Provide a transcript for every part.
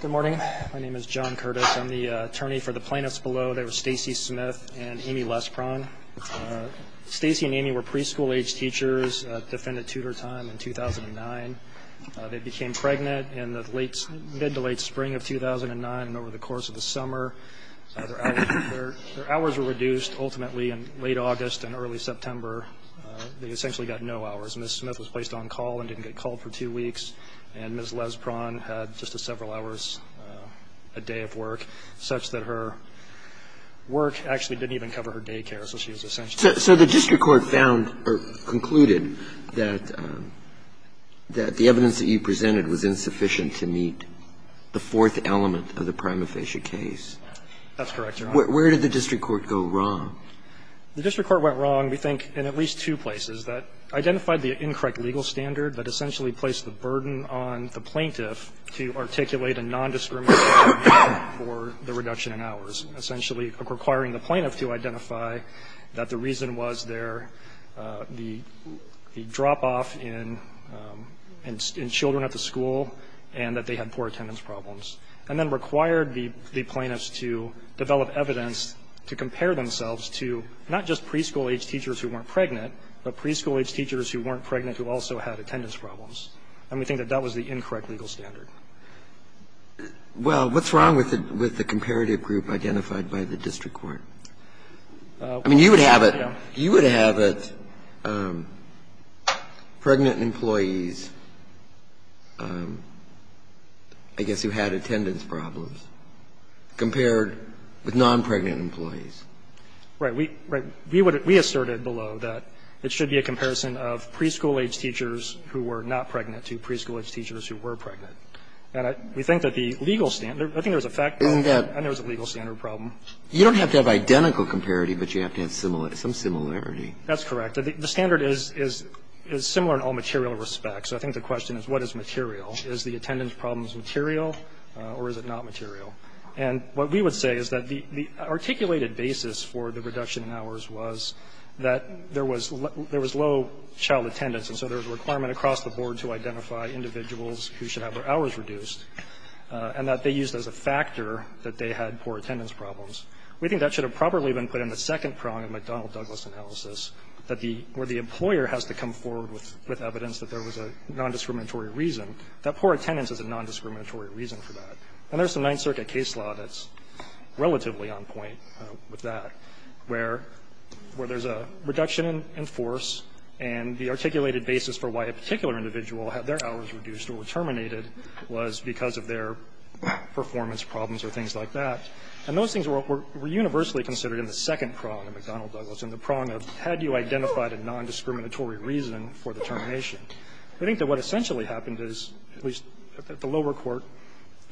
Good morning. My name is John Curtis. I'm the attorney for the plaintiffs below. They were Stacey Smith and Aimee Lespron. Stacey and Aimee were preschool-age teachers at Defendant Tutor Time in 2009. They became pregnant in the mid to late spring of 2009 and over the course of the summer. Their hours were reduced ultimately in late August and early September. They essentially got no hours. Ms. Smith was placed on call and didn't get called for two weeks and Ms. Lespron had just several hours a day of work, such that her work actually didn't even cover her daycare. So she was essentially So the district court found or concluded that the evidence that you presented was insufficient to meet the fourth element of the prima facie case. That's correct, Your Honor. Where did the district court go wrong? The district court went wrong, we think, in at least two places. That identified the incorrect legal standard that essentially placed the burden on the plaintiff to articulate a non-discriminatory argument for the reduction in hours. Essentially requiring the plaintiff to identify that the reason was the drop-off in children at the school and that they had poor attendance problems. And then required the plaintiffs to develop evidence to compare themselves to not just preschool-age teachers who weren't pregnant, but preschool-age teachers who weren't pregnant who also had attendance problems. And we think that that was the incorrect legal standard. Well, what's wrong with the comparative group identified by the district court? Yeah. So you're comparing pregnant employees, I guess, who had attendance problems compared with non-pregnant employees. Right. We asserted below that it should be a comparison of preschool-age teachers who were not pregnant to preschool-age teachers who were pregnant. And we think that the legal standard, I think there was a fact there, and there was a legal standard problem. You don't have to have identical comparity, but you have to have some similarity. That's correct. The standard is similar in all material respects. So I think the question is, what is material? Is the attendance problems material or is it not material? And what we would say is that the articulated basis for the reduction in hours was that there was low child attendance. And so there was a requirement across the board to identify individuals who should have their hours reduced and that they used as a factor that they had poor attendance problems. We think that should have probably been put in the second prong of the McDonnell-Douglas analysis that the employer has to come forward with evidence that there was a nondiscriminatory reason, that poor attendance is a nondiscriminatory reason for that. And there's a Ninth Circuit case law that's relatively on point with that, where there's a reduction in force, and the articulated basis for why a particular individual had their hours reduced or terminated was because of their performance problems or things like that. And those things were universally considered in the second prong of McDonnell-Douglas and the prong of had you identified a nondiscriminatory reason for the termination. We think that what essentially happened is, at least at the lower court,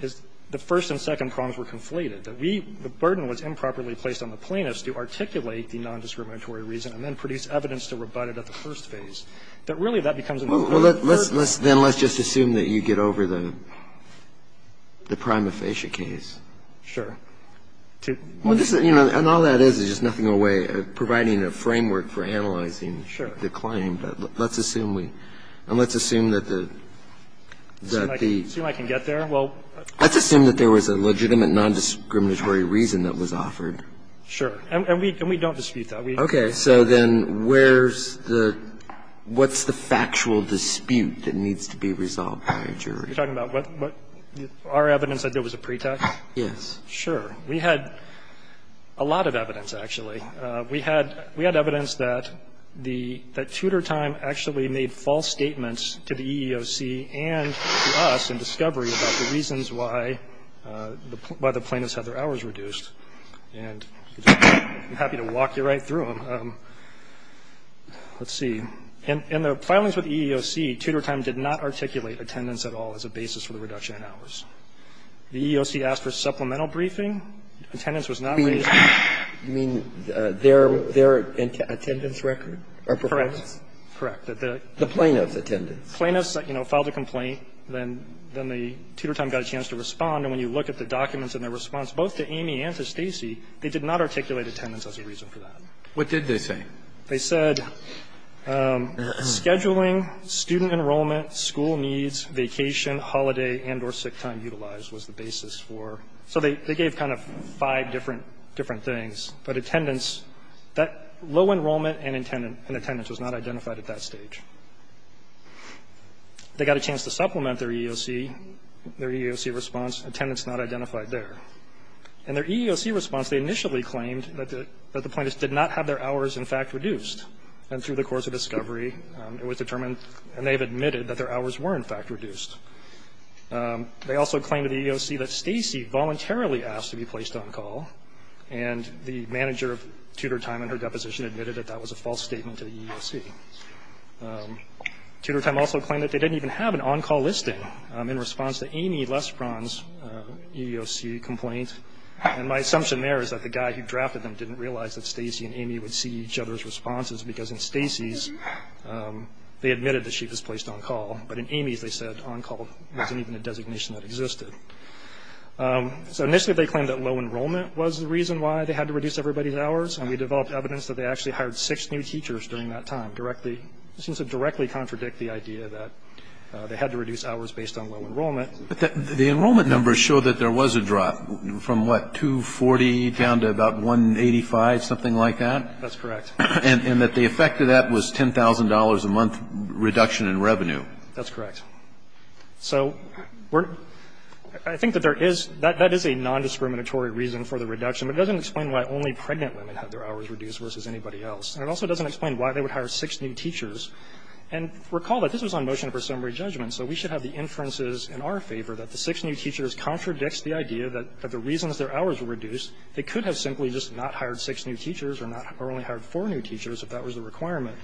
is the first and second prongs were conflated, that we – the burden was improperly placed on the plaintiffs to articulate the nondiscriminatory reason and then produce evidence to rebut it at the first phase. That really that becomes a nondiscriminatory reason. Kennedy, then let's just assume that you get over the prima facie case. Sure. Well, this is – and all that is is just nothing in the way of providing a framework for analyzing the claim, but let's assume we – and let's assume that the – that the – Assume I can get there? Well, let's assume that there was a legitimate nondiscriminatory reason that was offered. Sure. And we don't dispute that. Okay. So then where's the – what's the factual dispute that needs to be resolved by a jury? You're talking about what – our evidence that there was a pretext? Yes. Sure. We had a lot of evidence, actually. We had – we had evidence that the – that Tudor Time actually made false statements to the EEOC and to us in discovery about the reasons why the – why the plaintiffs had their hours reduced. And I'm happy to walk you right through them. Let's see. In the filings with the EEOC, Tudor Time did not articulate attendance at all as a basis for the reduction in hours. The EEOC asked for supplemental briefing. Attendance was not raised. You mean their – their attendance record or performance? Correct. The plaintiff's attendance. Plaintiff's, you know, filed a complaint. Then – then the Tudor Time got a chance to respond. And when you look at the documents and their response, both to Amy and to Stacy, they did not articulate attendance as a reason for that. What did they say? They said scheduling, student enrollment, school needs, vacation, holiday, and or sick time utilized was the basis for – so they – they gave kind of five different – different things. But attendance, that low enrollment and attendance was not identified at that stage. They got a chance to supplement their EEOC, their EEOC response. Attendance not identified there. In their EEOC response, they initially claimed that the – that the plaintiffs did not have their hours in fact reduced. And through the course of discovery, it was determined, and they have admitted, that their hours were in fact reduced. They also claimed to the EEOC that Stacy voluntarily asked to be placed on call. And the manager of Tudor Time in her deposition admitted that that was a false statement to the EEOC. Tudor Time also claimed that they didn't even have an on-call listing in response to Amy Lesperon's EEOC complaint. And my assumption there is that the guy who drafted them didn't realize that Stacy and Amy would see each other's responses because in Stacy's, they admitted that she was placed on call. But in Amy's, they said on-call wasn't even a designation that existed. So initially, they claimed that low enrollment was the reason why they had to reduce everybody's hours. And we developed evidence that they actually hired six new teachers during that time, directly – it seems to directly contradict the idea that they had to reduce hours based on low enrollment. But the enrollment numbers show that there was a drop from, what, 240 down to about 185, something like that? That's correct. And that the effect of that was $10,000 a month reduction in revenue. That's correct. So we're – I think that there is – that is a nondiscriminatory reason for the reduction. It doesn't explain why only pregnant women had their hours reduced versus anybody else. And it also doesn't explain why they would hire six new teachers. And recall that this was on motion of presumably judgment. So we should have the inferences in our favor that the six new teachers contradicts the idea that the reasons their hours were reduced, they could have simply just not hired more new teachers if that was the requirement.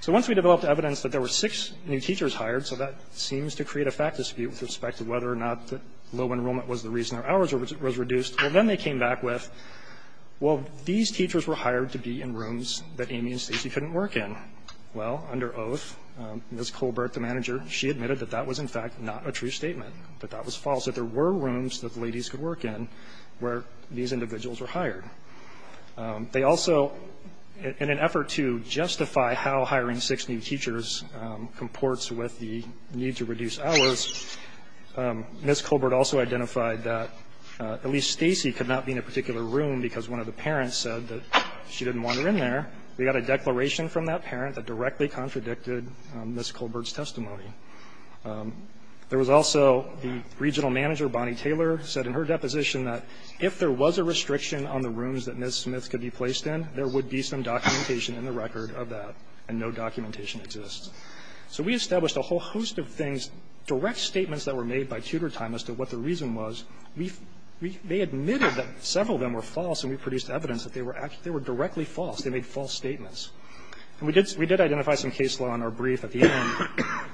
So once we developed evidence that there were six new teachers hired – so that seems to create a fact dispute with respect to whether or not the low enrollment was the reason their hours was reduced – well, then they came back with, well, these teachers were hired to be in rooms that Amy and Stacey couldn't work in. Well, under oath, Ms. Colbert, the manager, she admitted that that was, in fact, not a true statement, that that was false, that there were rooms that the ladies could work in where these individuals were hired. They also, in an effort to justify how hiring six new teachers comports with the need to reduce hours, Ms. Colbert also identified that at least Stacey could not be in a particular room because one of the parents said that she didn't want her in there. We got a declaration from that parent that directly contradicted Ms. Colbert's testimony. There was also the regional manager, Bonnie Taylor, said in her deposition that if there was a restriction on the rooms that Ms. Smith could be placed in, there would be some documentation in the record of that, and no documentation exists. So we established a whole host of things, direct statements that were made by tutor time as to what the reason was. We – they admitted that several of them were false, and we produced evidence that they were – they were directly false. They made false statements. And we did – we did identify some case law in our brief at the end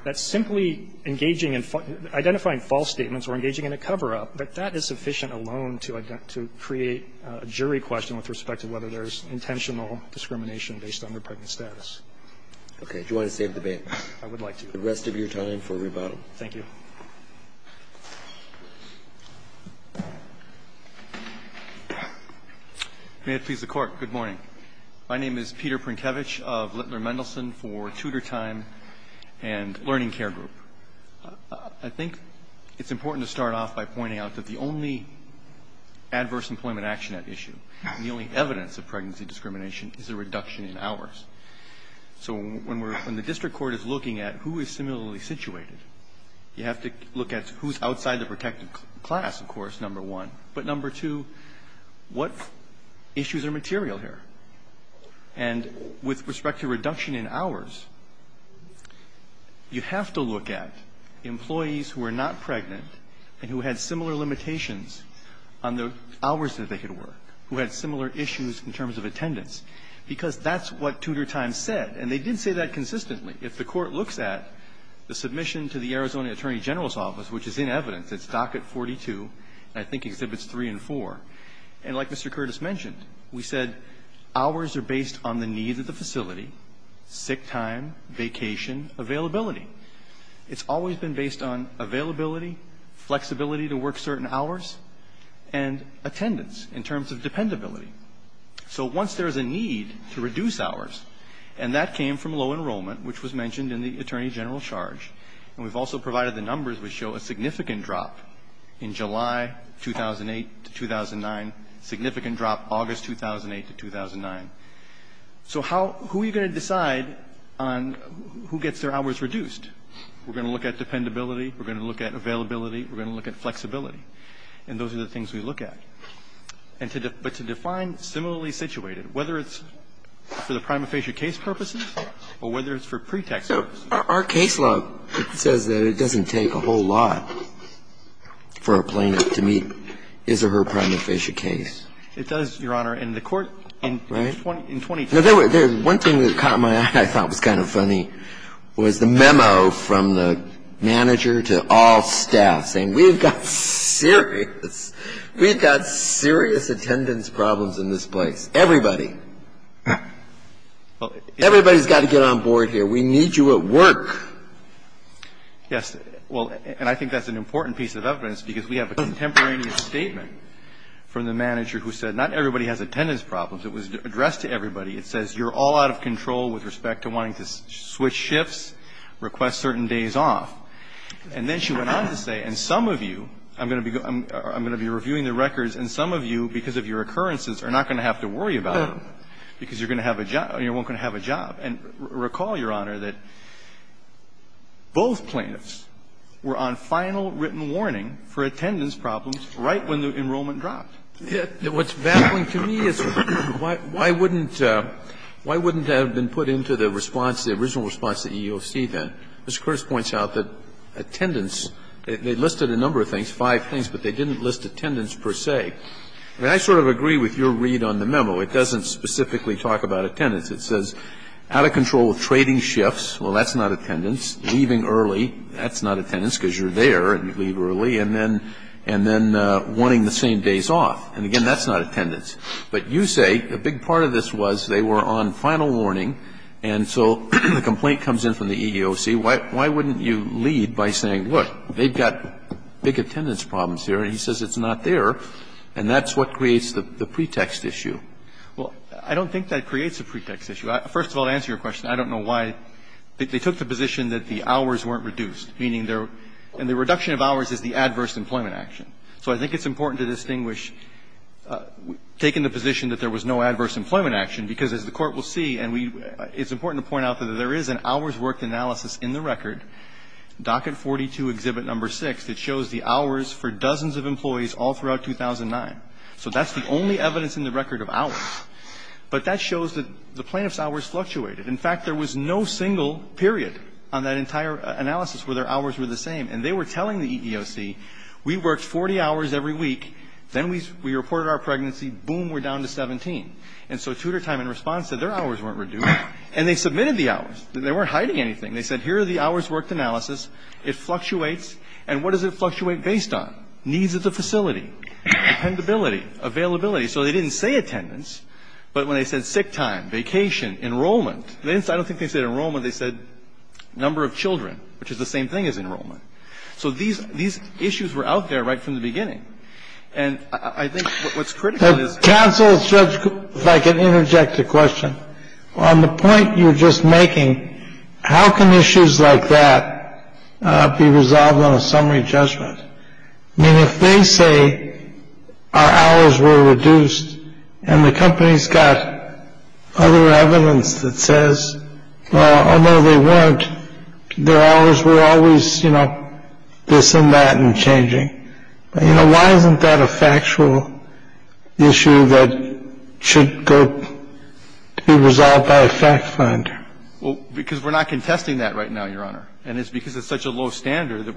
that simply engaging in – identifying false statements or engaging in a cover-up, but that is sufficient alone to create a jury question with respect to whether there's intentional discrimination based on their pregnant status. Roberts. Okay. Do you want to save the debate? Phillips. I would like to. The rest of your time for rebuttal. Phillips. Thank you. Prinkevich. May it please the Court. Good morning. My name is Peter Prinkevich of Littler Mendelson for Tutor Time and Learning Care Group. I think it's important to start off by pointing out that the only adverse employment action at issue, and the only evidence of pregnancy discrimination, is a reduction in hours. So when we're – when the district court is looking at who is similarly situated, you have to look at who's outside the protected class, of course, number one. But number two, what issues are material here? And with respect to reduction in hours, you have to look at employees who are not pregnant and who had similar limitations on the hours that they could work, who had similar issues in terms of attendance, because that's what Tutor Time said. And they did say that consistently. If the Court looks at the submission to the Arizona Attorney General's Office, which is in evidence, it's Docket 42, and I think Exhibits 3 and 4. And like Mr. Curtis mentioned, we said hours are based on the needs of the facility, sick time, vacation, availability. It's always been based on availability, flexibility to work certain hours, and attendance in terms of dependability. So once there is a need to reduce hours, and that came from low enrollment, which was mentioned in the Attorney General's charge, and we've also provided the numbers which show a significant drop in July 2008 to 2009. Significant drop August 2008 to 2009. So who are you going to decide on who gets their hours reduced? We're going to look at dependability. We're going to look at availability. We're going to look at flexibility. And those are the things we look at. But to define similarly situated, whether it's for the prima facie case purposes or whether it's for pretext purposes. Our case law says that it doesn't take a whole lot for a plaintiff to meet his or her It does, Your Honor. In the court in 2010. One thing that caught my eye, I thought was kind of funny, was the memo from the manager to all staff saying we've got serious, we've got serious attendance problems in this place. Everybody. Everybody's got to get on board here. We need you at work. Yes. Well, and I think that's an important piece of evidence because we have a contemporaneous statement from the manager who said not everybody has attendance problems. It was addressed to everybody. It says you're all out of control with respect to wanting to switch shifts, request certain days off. And then she went on to say, and some of you, I'm going to be reviewing the records and some of you, because of your occurrences, are not going to have to worry about it because you're going to have a job, you're not going to have a job. And recall, Your Honor, that both plaintiffs were on final written warning for attendance problems right when the enrollment dropped. What's baffling to me is why wouldn't, why wouldn't that have been put into the response, the original response at EEOC then? Mr. Curtis points out that attendance, they listed a number of things, five things, but they didn't list attendance per se. I mean, I sort of agree with your read on the memo. It doesn't specifically talk about attendance. It says out of control with trading shifts. Well, that's not attendance. Leaving early, that's not attendance because you're there and you leave early. And then, and then wanting the same days off. And again, that's not attendance. But you say a big part of this was they were on final warning and so the complaint comes in from the EEOC. Why, why wouldn't you lead by saying, look, they've got big attendance problems here, and he says it's not there, and that's what creates the pretext issue? Well, I don't think that creates a pretext issue. First of all, to answer your question, I don't know why. They took the position that the hours weren't reduced. Meaning they're, and the reduction of hours is the adverse employment action. So I think it's important to distinguish, taking the position that there was no adverse employment action, because as the Court will see, and we, it's important to point out that there is an hours worked analysis in the record, Docket 42, Exhibit No. 6, that shows the hours for dozens of employees all throughout 2009. So that's the only evidence in the record of hours. But that shows that the plaintiff's hours fluctuated. In fact, there was no single period on that entire analysis where their hours were the same. And they were telling the EEOC, we worked 40 hours every week, then we reported our pregnancy, boom, we're down to 17. And so Tudor Time, in response, said their hours weren't reduced. And they submitted the hours. They weren't hiding anything. They said, here are the hours worked analysis. It fluctuates. And what does it fluctuate based on? Needs of the facility. Dependability. Availability. So they didn't say attendance, but when they said sick time, vacation, enrollment, I don't think they said enrollment. They said number of children, which is the same thing as enrollment. So these issues were out there right from the beginning. And I think what's critical is that counsel and judge, if I can interject a question, on the point you're just making, how can issues like that be resolved on a summary judgment? I mean, if they say our hours were reduced and the company's got other evidence that says, although they weren't, their hours were always, you know, this and that and changing, you know, why isn't that a factual issue that should go to be resolved by a fact finder? Well, because we're not contesting that right now, Your Honor. And it's because it's such a low standard that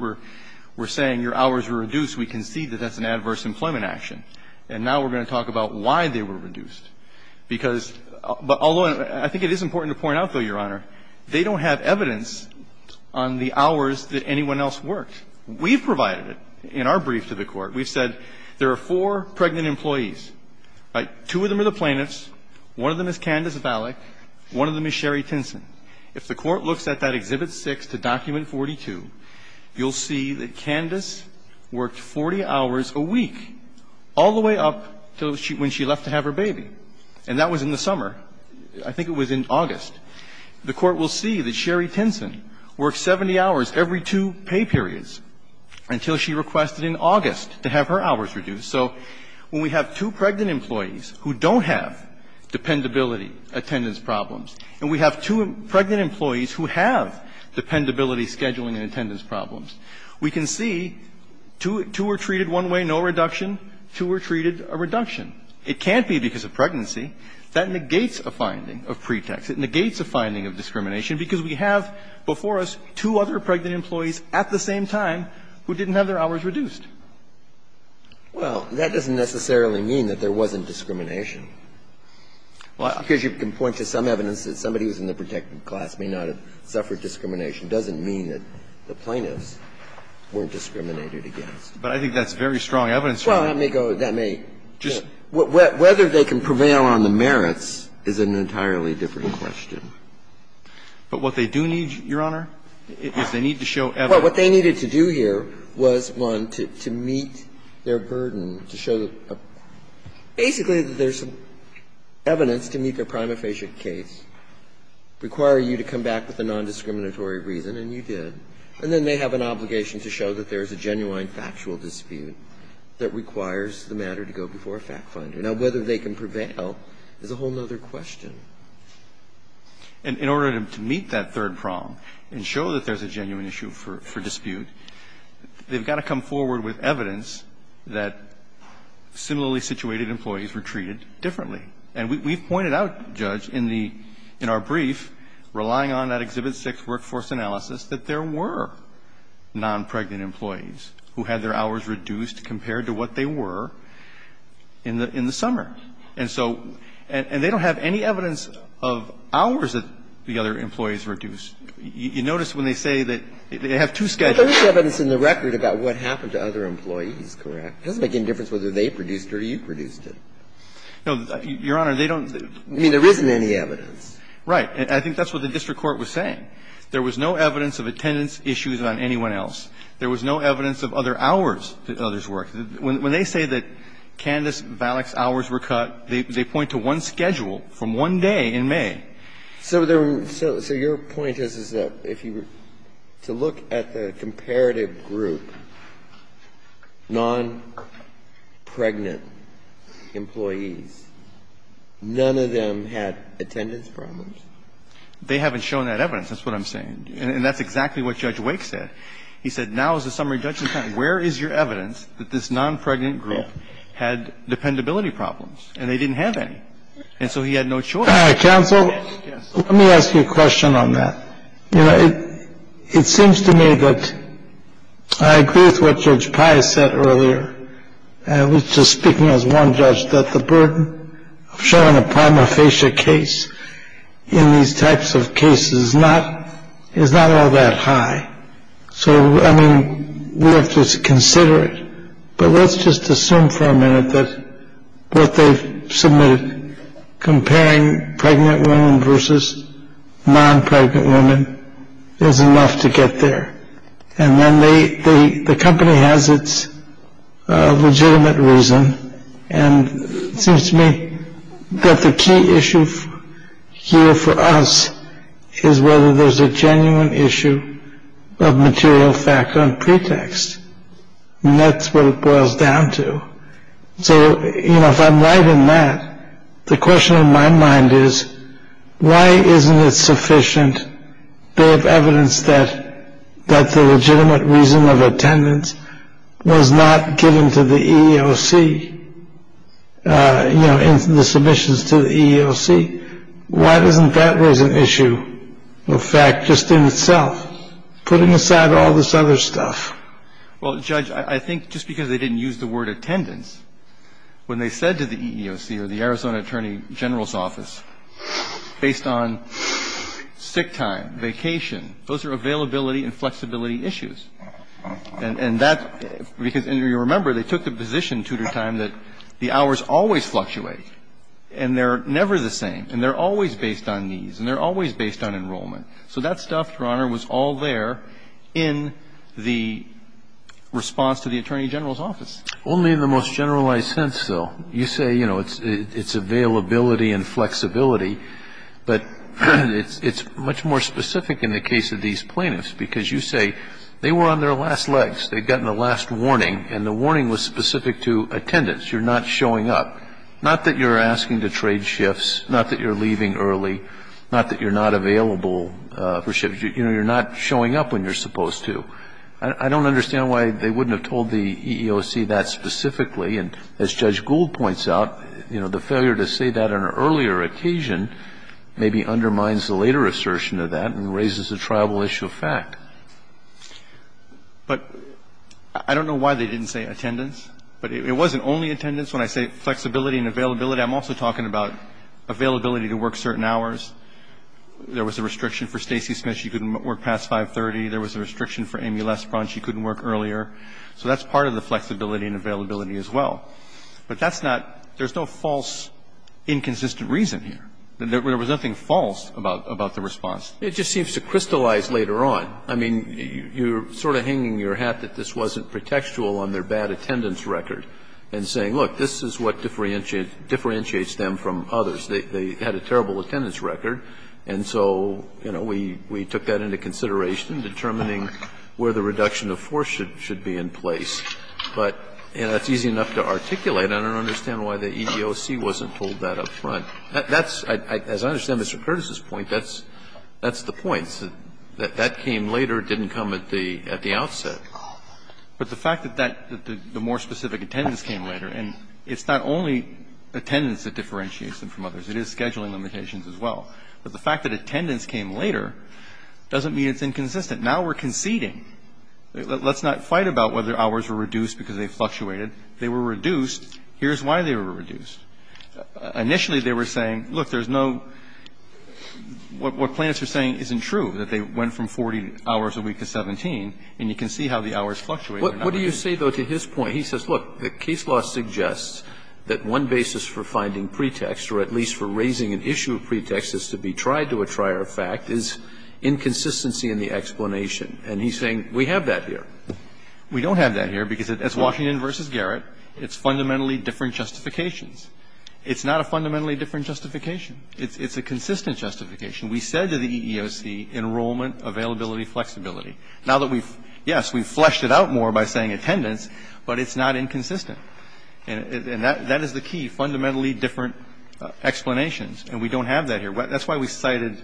we're saying your hours were reduced. We concede that that's an adverse employment action. And now we're going to talk about why they were reduced. Because although I think it is important to point out, though, Your Honor, they don't have evidence on the hours that anyone else worked. We've provided it in our brief to the Court. We've said there are four pregnant employees. Two of them are the plaintiffs. One of them is Candace Vallick. One of them is Sherry Tinson. If the Court looks at that Exhibit 6 to Document 42, you'll see that Candace worked 40 hours a week all the way up until when she left to have her baby. And that was in the summer. I think it was in August. The Court will see that Sherry Tinson worked 70 hours every two pay periods until she requested in August to have her hours reduced. So when we have two pregnant employees who don't have dependability attendance problems, and we have two pregnant employees who have dependability scheduling and attendance problems, we can see two were treated one way, no reduction. Two were treated a reduction. It can't be because of pregnancy. That negates a finding of pretext. It negates a finding of discrimination because we have before us two other pregnant employees at the same time who didn't have their hours reduced. Well, that doesn't necessarily mean that there wasn't discrimination. Because you can point to some evidence that somebody who's in the protected class may not have suffered discrimination. It doesn't mean that the plaintiffs weren't discriminated against. But I think that's very strong evidence for you. Well, that may go, that may. Whether they can prevail on the merits is an entirely different question. But what they do need, Your Honor, is they need to show evidence. Well, what they needed to do here was, one, to meet their burden, to show that basically there's evidence to meet their prima facie case, require you to come back with a nondiscriminatory reason, and you did, and then they have an obligation to show that there's a genuine factual dispute that requires the matter to go before a fact finder. Now, whether they can prevail is a whole other question. And in order to meet that third prong and show that there's a genuine issue for dispute, they've got to come forward with evidence that similarly situated employees were treated differently. And we've pointed out, Judge, in our brief, relying on that Exhibit 6 workforce analysis, that there were nonpregnant employees who had their hours reduced compared to what they were in the summer. And so they don't have any evidence of hours that the other employees reduced. You notice when they say that they have two schedules. There's evidence in the record about what happened to other employees, correct? It doesn't make any difference whether they produced it or you produced it. No, Your Honor, they don't. I mean, there isn't any evidence. Right. I think that's what the district court was saying. There was no evidence of attendance issues on anyone else. There was no evidence of other hours that others worked. When they say that Candace Valek's hours were cut, they point to one schedule from one day in May. So your point is, is that if you were to look at the comparative group, nonpregnant employees, none of them had attendance problems? They haven't shown that evidence. That's what I'm saying. And that's exactly what Judge Wake said. He said now is the summary judgment time. Where is your evidence that this nonpregnant group had dependability problems? And they didn't have any. And so he had no choice. Counsel, let me ask you a question on that. You know, it seems to me that I agree with what Judge Pius said earlier. I was just speaking as one judge that the burden of showing a prima facie case in these types of cases is not is not all that high. So, I mean, we have to consider it. But let's just assume for a minute that what they've submitted comparing pregnant women versus nonpregnant women is enough to get there. And then the company has its legitimate reason. And it seems to me that the key issue here for us is whether there's a genuine issue of material fact on pretext. And that's what it boils down to. So, you know, if I'm right in that, the question in my mind is, why isn't it sufficient to have evidence that that's a legitimate reason of attendance was not given to the EOC in the submissions to the EOC? Why doesn't that raise an issue of fact just in itself? Put aside all this other stuff. Well, Judge, I think just because they didn't use the word attendance, when they said to the EEOC or the Arizona Attorney General's Office, based on sick time, vacation, those are availability and flexibility issues. And that's because, you remember, they took the position, Tudor Time, that the hours always fluctuate, and they're never the same, and they're always based on needs, and they're always based on enrollment. So that stuff, Your Honor, was all there in the response to the Attorney General's Office. Only in the most generalized sense, though. You say, you know, it's availability and flexibility, but it's much more specific in the case of these plaintiffs, because you say they were on their last legs. They'd gotten the last warning, and the warning was specific to attendance. You're not showing up. Not that you're asking to trade shifts. Not that you're leaving early. Not that you're not available for shifts. You know, you're not showing up when you're supposed to. I don't understand why they wouldn't have told the EEOC that specifically. And as Judge Gould points out, you know, the failure to say that on an earlier occasion maybe undermines the later assertion of that and raises a tribal issue of fact. But I don't know why they didn't say attendance. But it wasn't only attendance when I say flexibility and availability. I'm also talking about availability to work certain hours. There was a restriction for Stacey Smith. She couldn't work past 530. There was a restriction for Amy Lesbron. She couldn't work earlier. So that's part of the flexibility and availability as well. But that's not – there's no false inconsistent reason here. There was nothing false about the response. It just seems to crystallize later on. I mean, you're sort of hanging your hat that this wasn't pretextual on their bad attendance record and saying, look, this is what differentiates them from others. They had a terrible attendance record. And so, you know, we took that into consideration, determining where the reduction of force should be in place. But, you know, it's easy enough to articulate. I don't understand why the EEOC wasn't told that up front. That's, as I understand Mr. Curtis's point, that's the point. That came later. It didn't come at the outset. But the fact that the more specific attendance came later, and it's not only attendance that differentiates them from others. It is scheduling limitations as well. But the fact that attendance came later doesn't mean it's inconsistent. Now we're conceding. Let's not fight about whether hours were reduced because they fluctuated. They were reduced. Here's why they were reduced. Initially, they were saying, look, there's no – what plaintiffs are saying isn't true, that they went from 40 hours a week to 17. And you can see how the hours fluctuate. But what do you say, though, to his point? He says, look, the case law suggests that one basis for finding pretext or at least for raising an issue of pretext is to be tried to a trier of fact is inconsistency in the explanation. And he's saying we have that here. We don't have that here because it's Washington v. Garrett. It's fundamentally different justifications. It's not a fundamentally different justification. We said to the EEOC, enrollment, availability, flexibility. Now that we've – yes, we've fleshed it out more by saying attendance, but it's not inconsistent. And that is the key, fundamentally different explanations. And we don't have that here. That's why we cited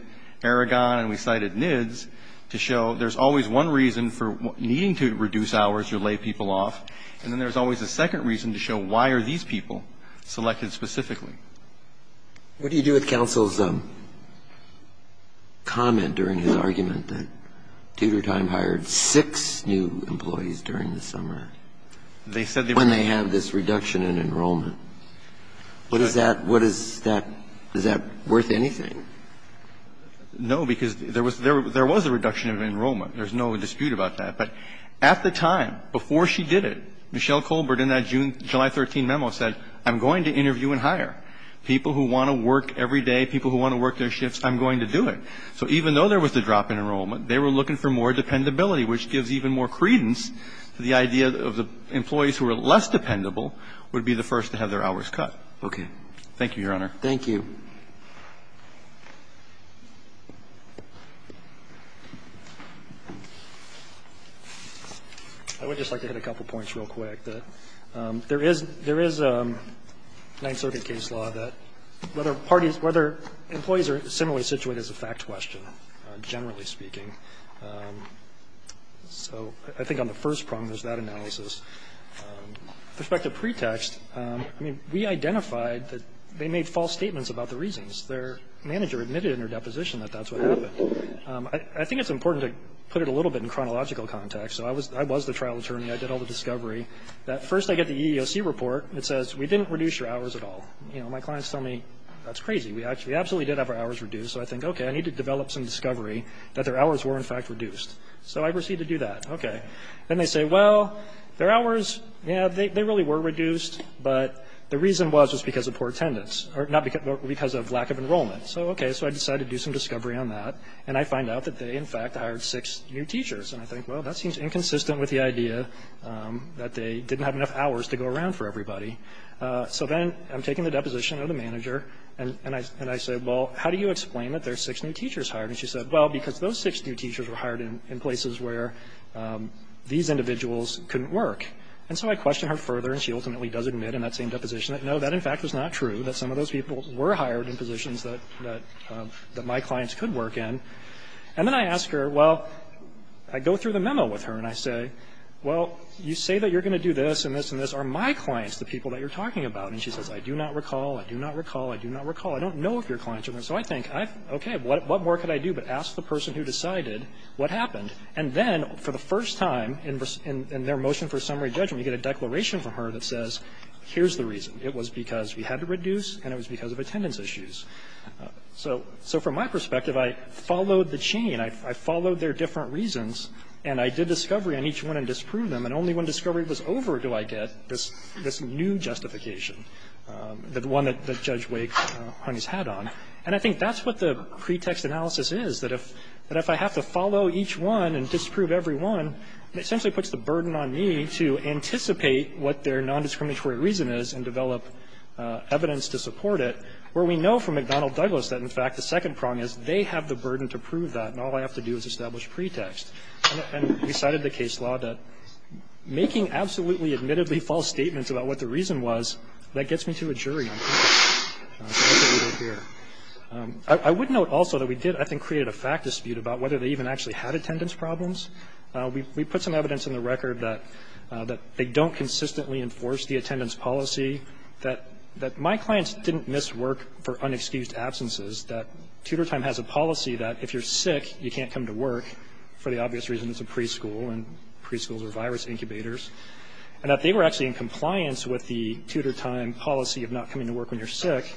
Aragon and we cited NIDS to show there's always one reason for needing to reduce hours or lay people off. And then there's always a second reason to show why are these people selected specifically. What do you do with counsel's comment during his argument that Tudor Time hired six new employees during the summer when they have this reduction in enrollment? What is that? What is that? Is that worth anything? No, because there was a reduction of enrollment. There's no dispute about that. But at the time, before she did it, Michelle Colbert in that July 13 memo said, I'm going to interview and hire. People who want to work every day, people who want to work their shifts, I'm going to do it. So even though there was a drop in enrollment, they were looking for more dependability, which gives even more credence to the idea of the employees who are less dependable would be the first to have their hours cut. Okay. Thank you, Your Honor. Thank you. I would just like to hit a couple points real quick. There is a Ninth Circuit case law that whether employees are similarly situated is a fact question, generally speaking. So I think on the first prong, there's that analysis. With respect to pretext, I mean, we identified that they made false statements about the reasons. Their manager admitted in her deposition that that's what happened. I think it's important to put it a little bit in chronological context. So I was the trial attorney. I did all the discovery. First, I get the EEOC report. It says, we didn't reduce your hours at all. You know, my clients tell me, that's crazy. We absolutely did have our hours reduced. So I think, okay, I need to develop some discovery that their hours were, in fact, reduced. So I proceed to do that. Okay. Then they say, well, their hours, yeah, they really were reduced, but the reason was just because of poor attendance or not because of lack of enrollment. So, okay, so I decided to do some discovery on that. And I find out that they, in fact, hired six new teachers. And I think, well, that seems inconsistent with the idea that they didn't have enough hours to go around for everybody. So then I'm taking the deposition of the manager, and I say, well, how do you explain that there are six new teachers hired? And she said, well, because those six new teachers were hired in places where these individuals couldn't work. And so I question her further, and she ultimately does admit in that same deposition that, no, that, in fact, was not true, that some of those people were hired in positions that my clients could work in. And then I ask her, well, I go through the memo with her, and I say, well, you say that you're going to do this and this and this. Are my clients the people that you're talking about? And she says, I do not recall. I do not recall. I do not recall. I don't know if your clients are going to. So I think, okay, what more could I do but ask the person who decided what happened? And then, for the first time in their motion for summary judgment, you get a declaration from her that says, here's the reason. It was because we had to reduce, and it was because of attendance issues. So from my perspective, I followed the chain. I followed their different reasons, and I did discovery on each one and disproved them. And only when discovery was over do I get this new justification, the one that Judge Wake's had on. And I think that's what the pretext analysis is, that if I have to follow each one and disprove every one, it essentially puts the burden on me to anticipate what their nondiscriminatory reason is and develop evidence to support it, where we know from McDonnell Douglas that, in fact, the second prong is they have the burden to prove that, and all I have to do is establish pretext. And we cited the case law that making absolutely, admittedly false statements about what the reason was, that gets me to a jury, I think. That's what we did here. I would note also that we did, I think, create a fact dispute about whether they even actually had attendance problems. And we also created a fact dispute about the length of the absence policy that my clients didn't miss work for unexcused absences, that Tudor Time has a policy that if you're sick, you can't come to work for the obvious reason it's a preschool and preschools are virus incubators, and that they were actually in compliance with the Tudor Time policy of not coming to work when you're sick,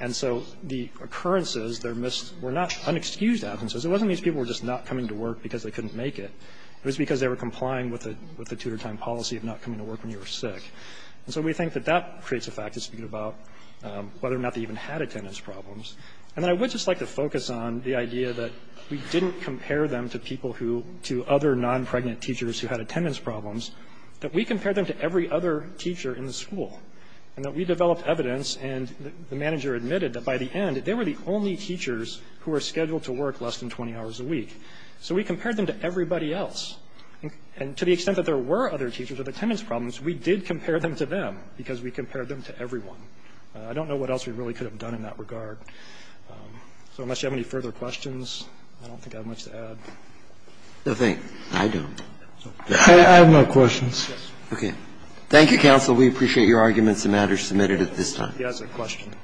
and so the occurrences, their miss, were not unexcused absences. It wasn't these people were just not coming to work because they couldn't make it. It was because they were complying with the Tudor Time policy of not coming to work when you were sick. And so we think that that creates a fact dispute about whether or not they even had attendance problems. And then I would just like to focus on the idea that we didn't compare them to people who, to other non-pregnant teachers who had attendance problems, that we compared them to every other teacher in the school, and that we developed evidence and the manager admitted that by the end, they were the only teachers who were scheduled to work less than 20 hours a week. So we compared them to everybody else. And to the extent that there were other teachers with attendance problems, we did not compare them to them because we compared them to everyone. I don't know what else we really could have done in that regard. So unless you have any further questions, I don't think I have much to add. Roberts. No, thank you. I don't. I have no questions. Okay. Thank you, counsel. We appreciate your arguments and matters submitted at this time. He has a question.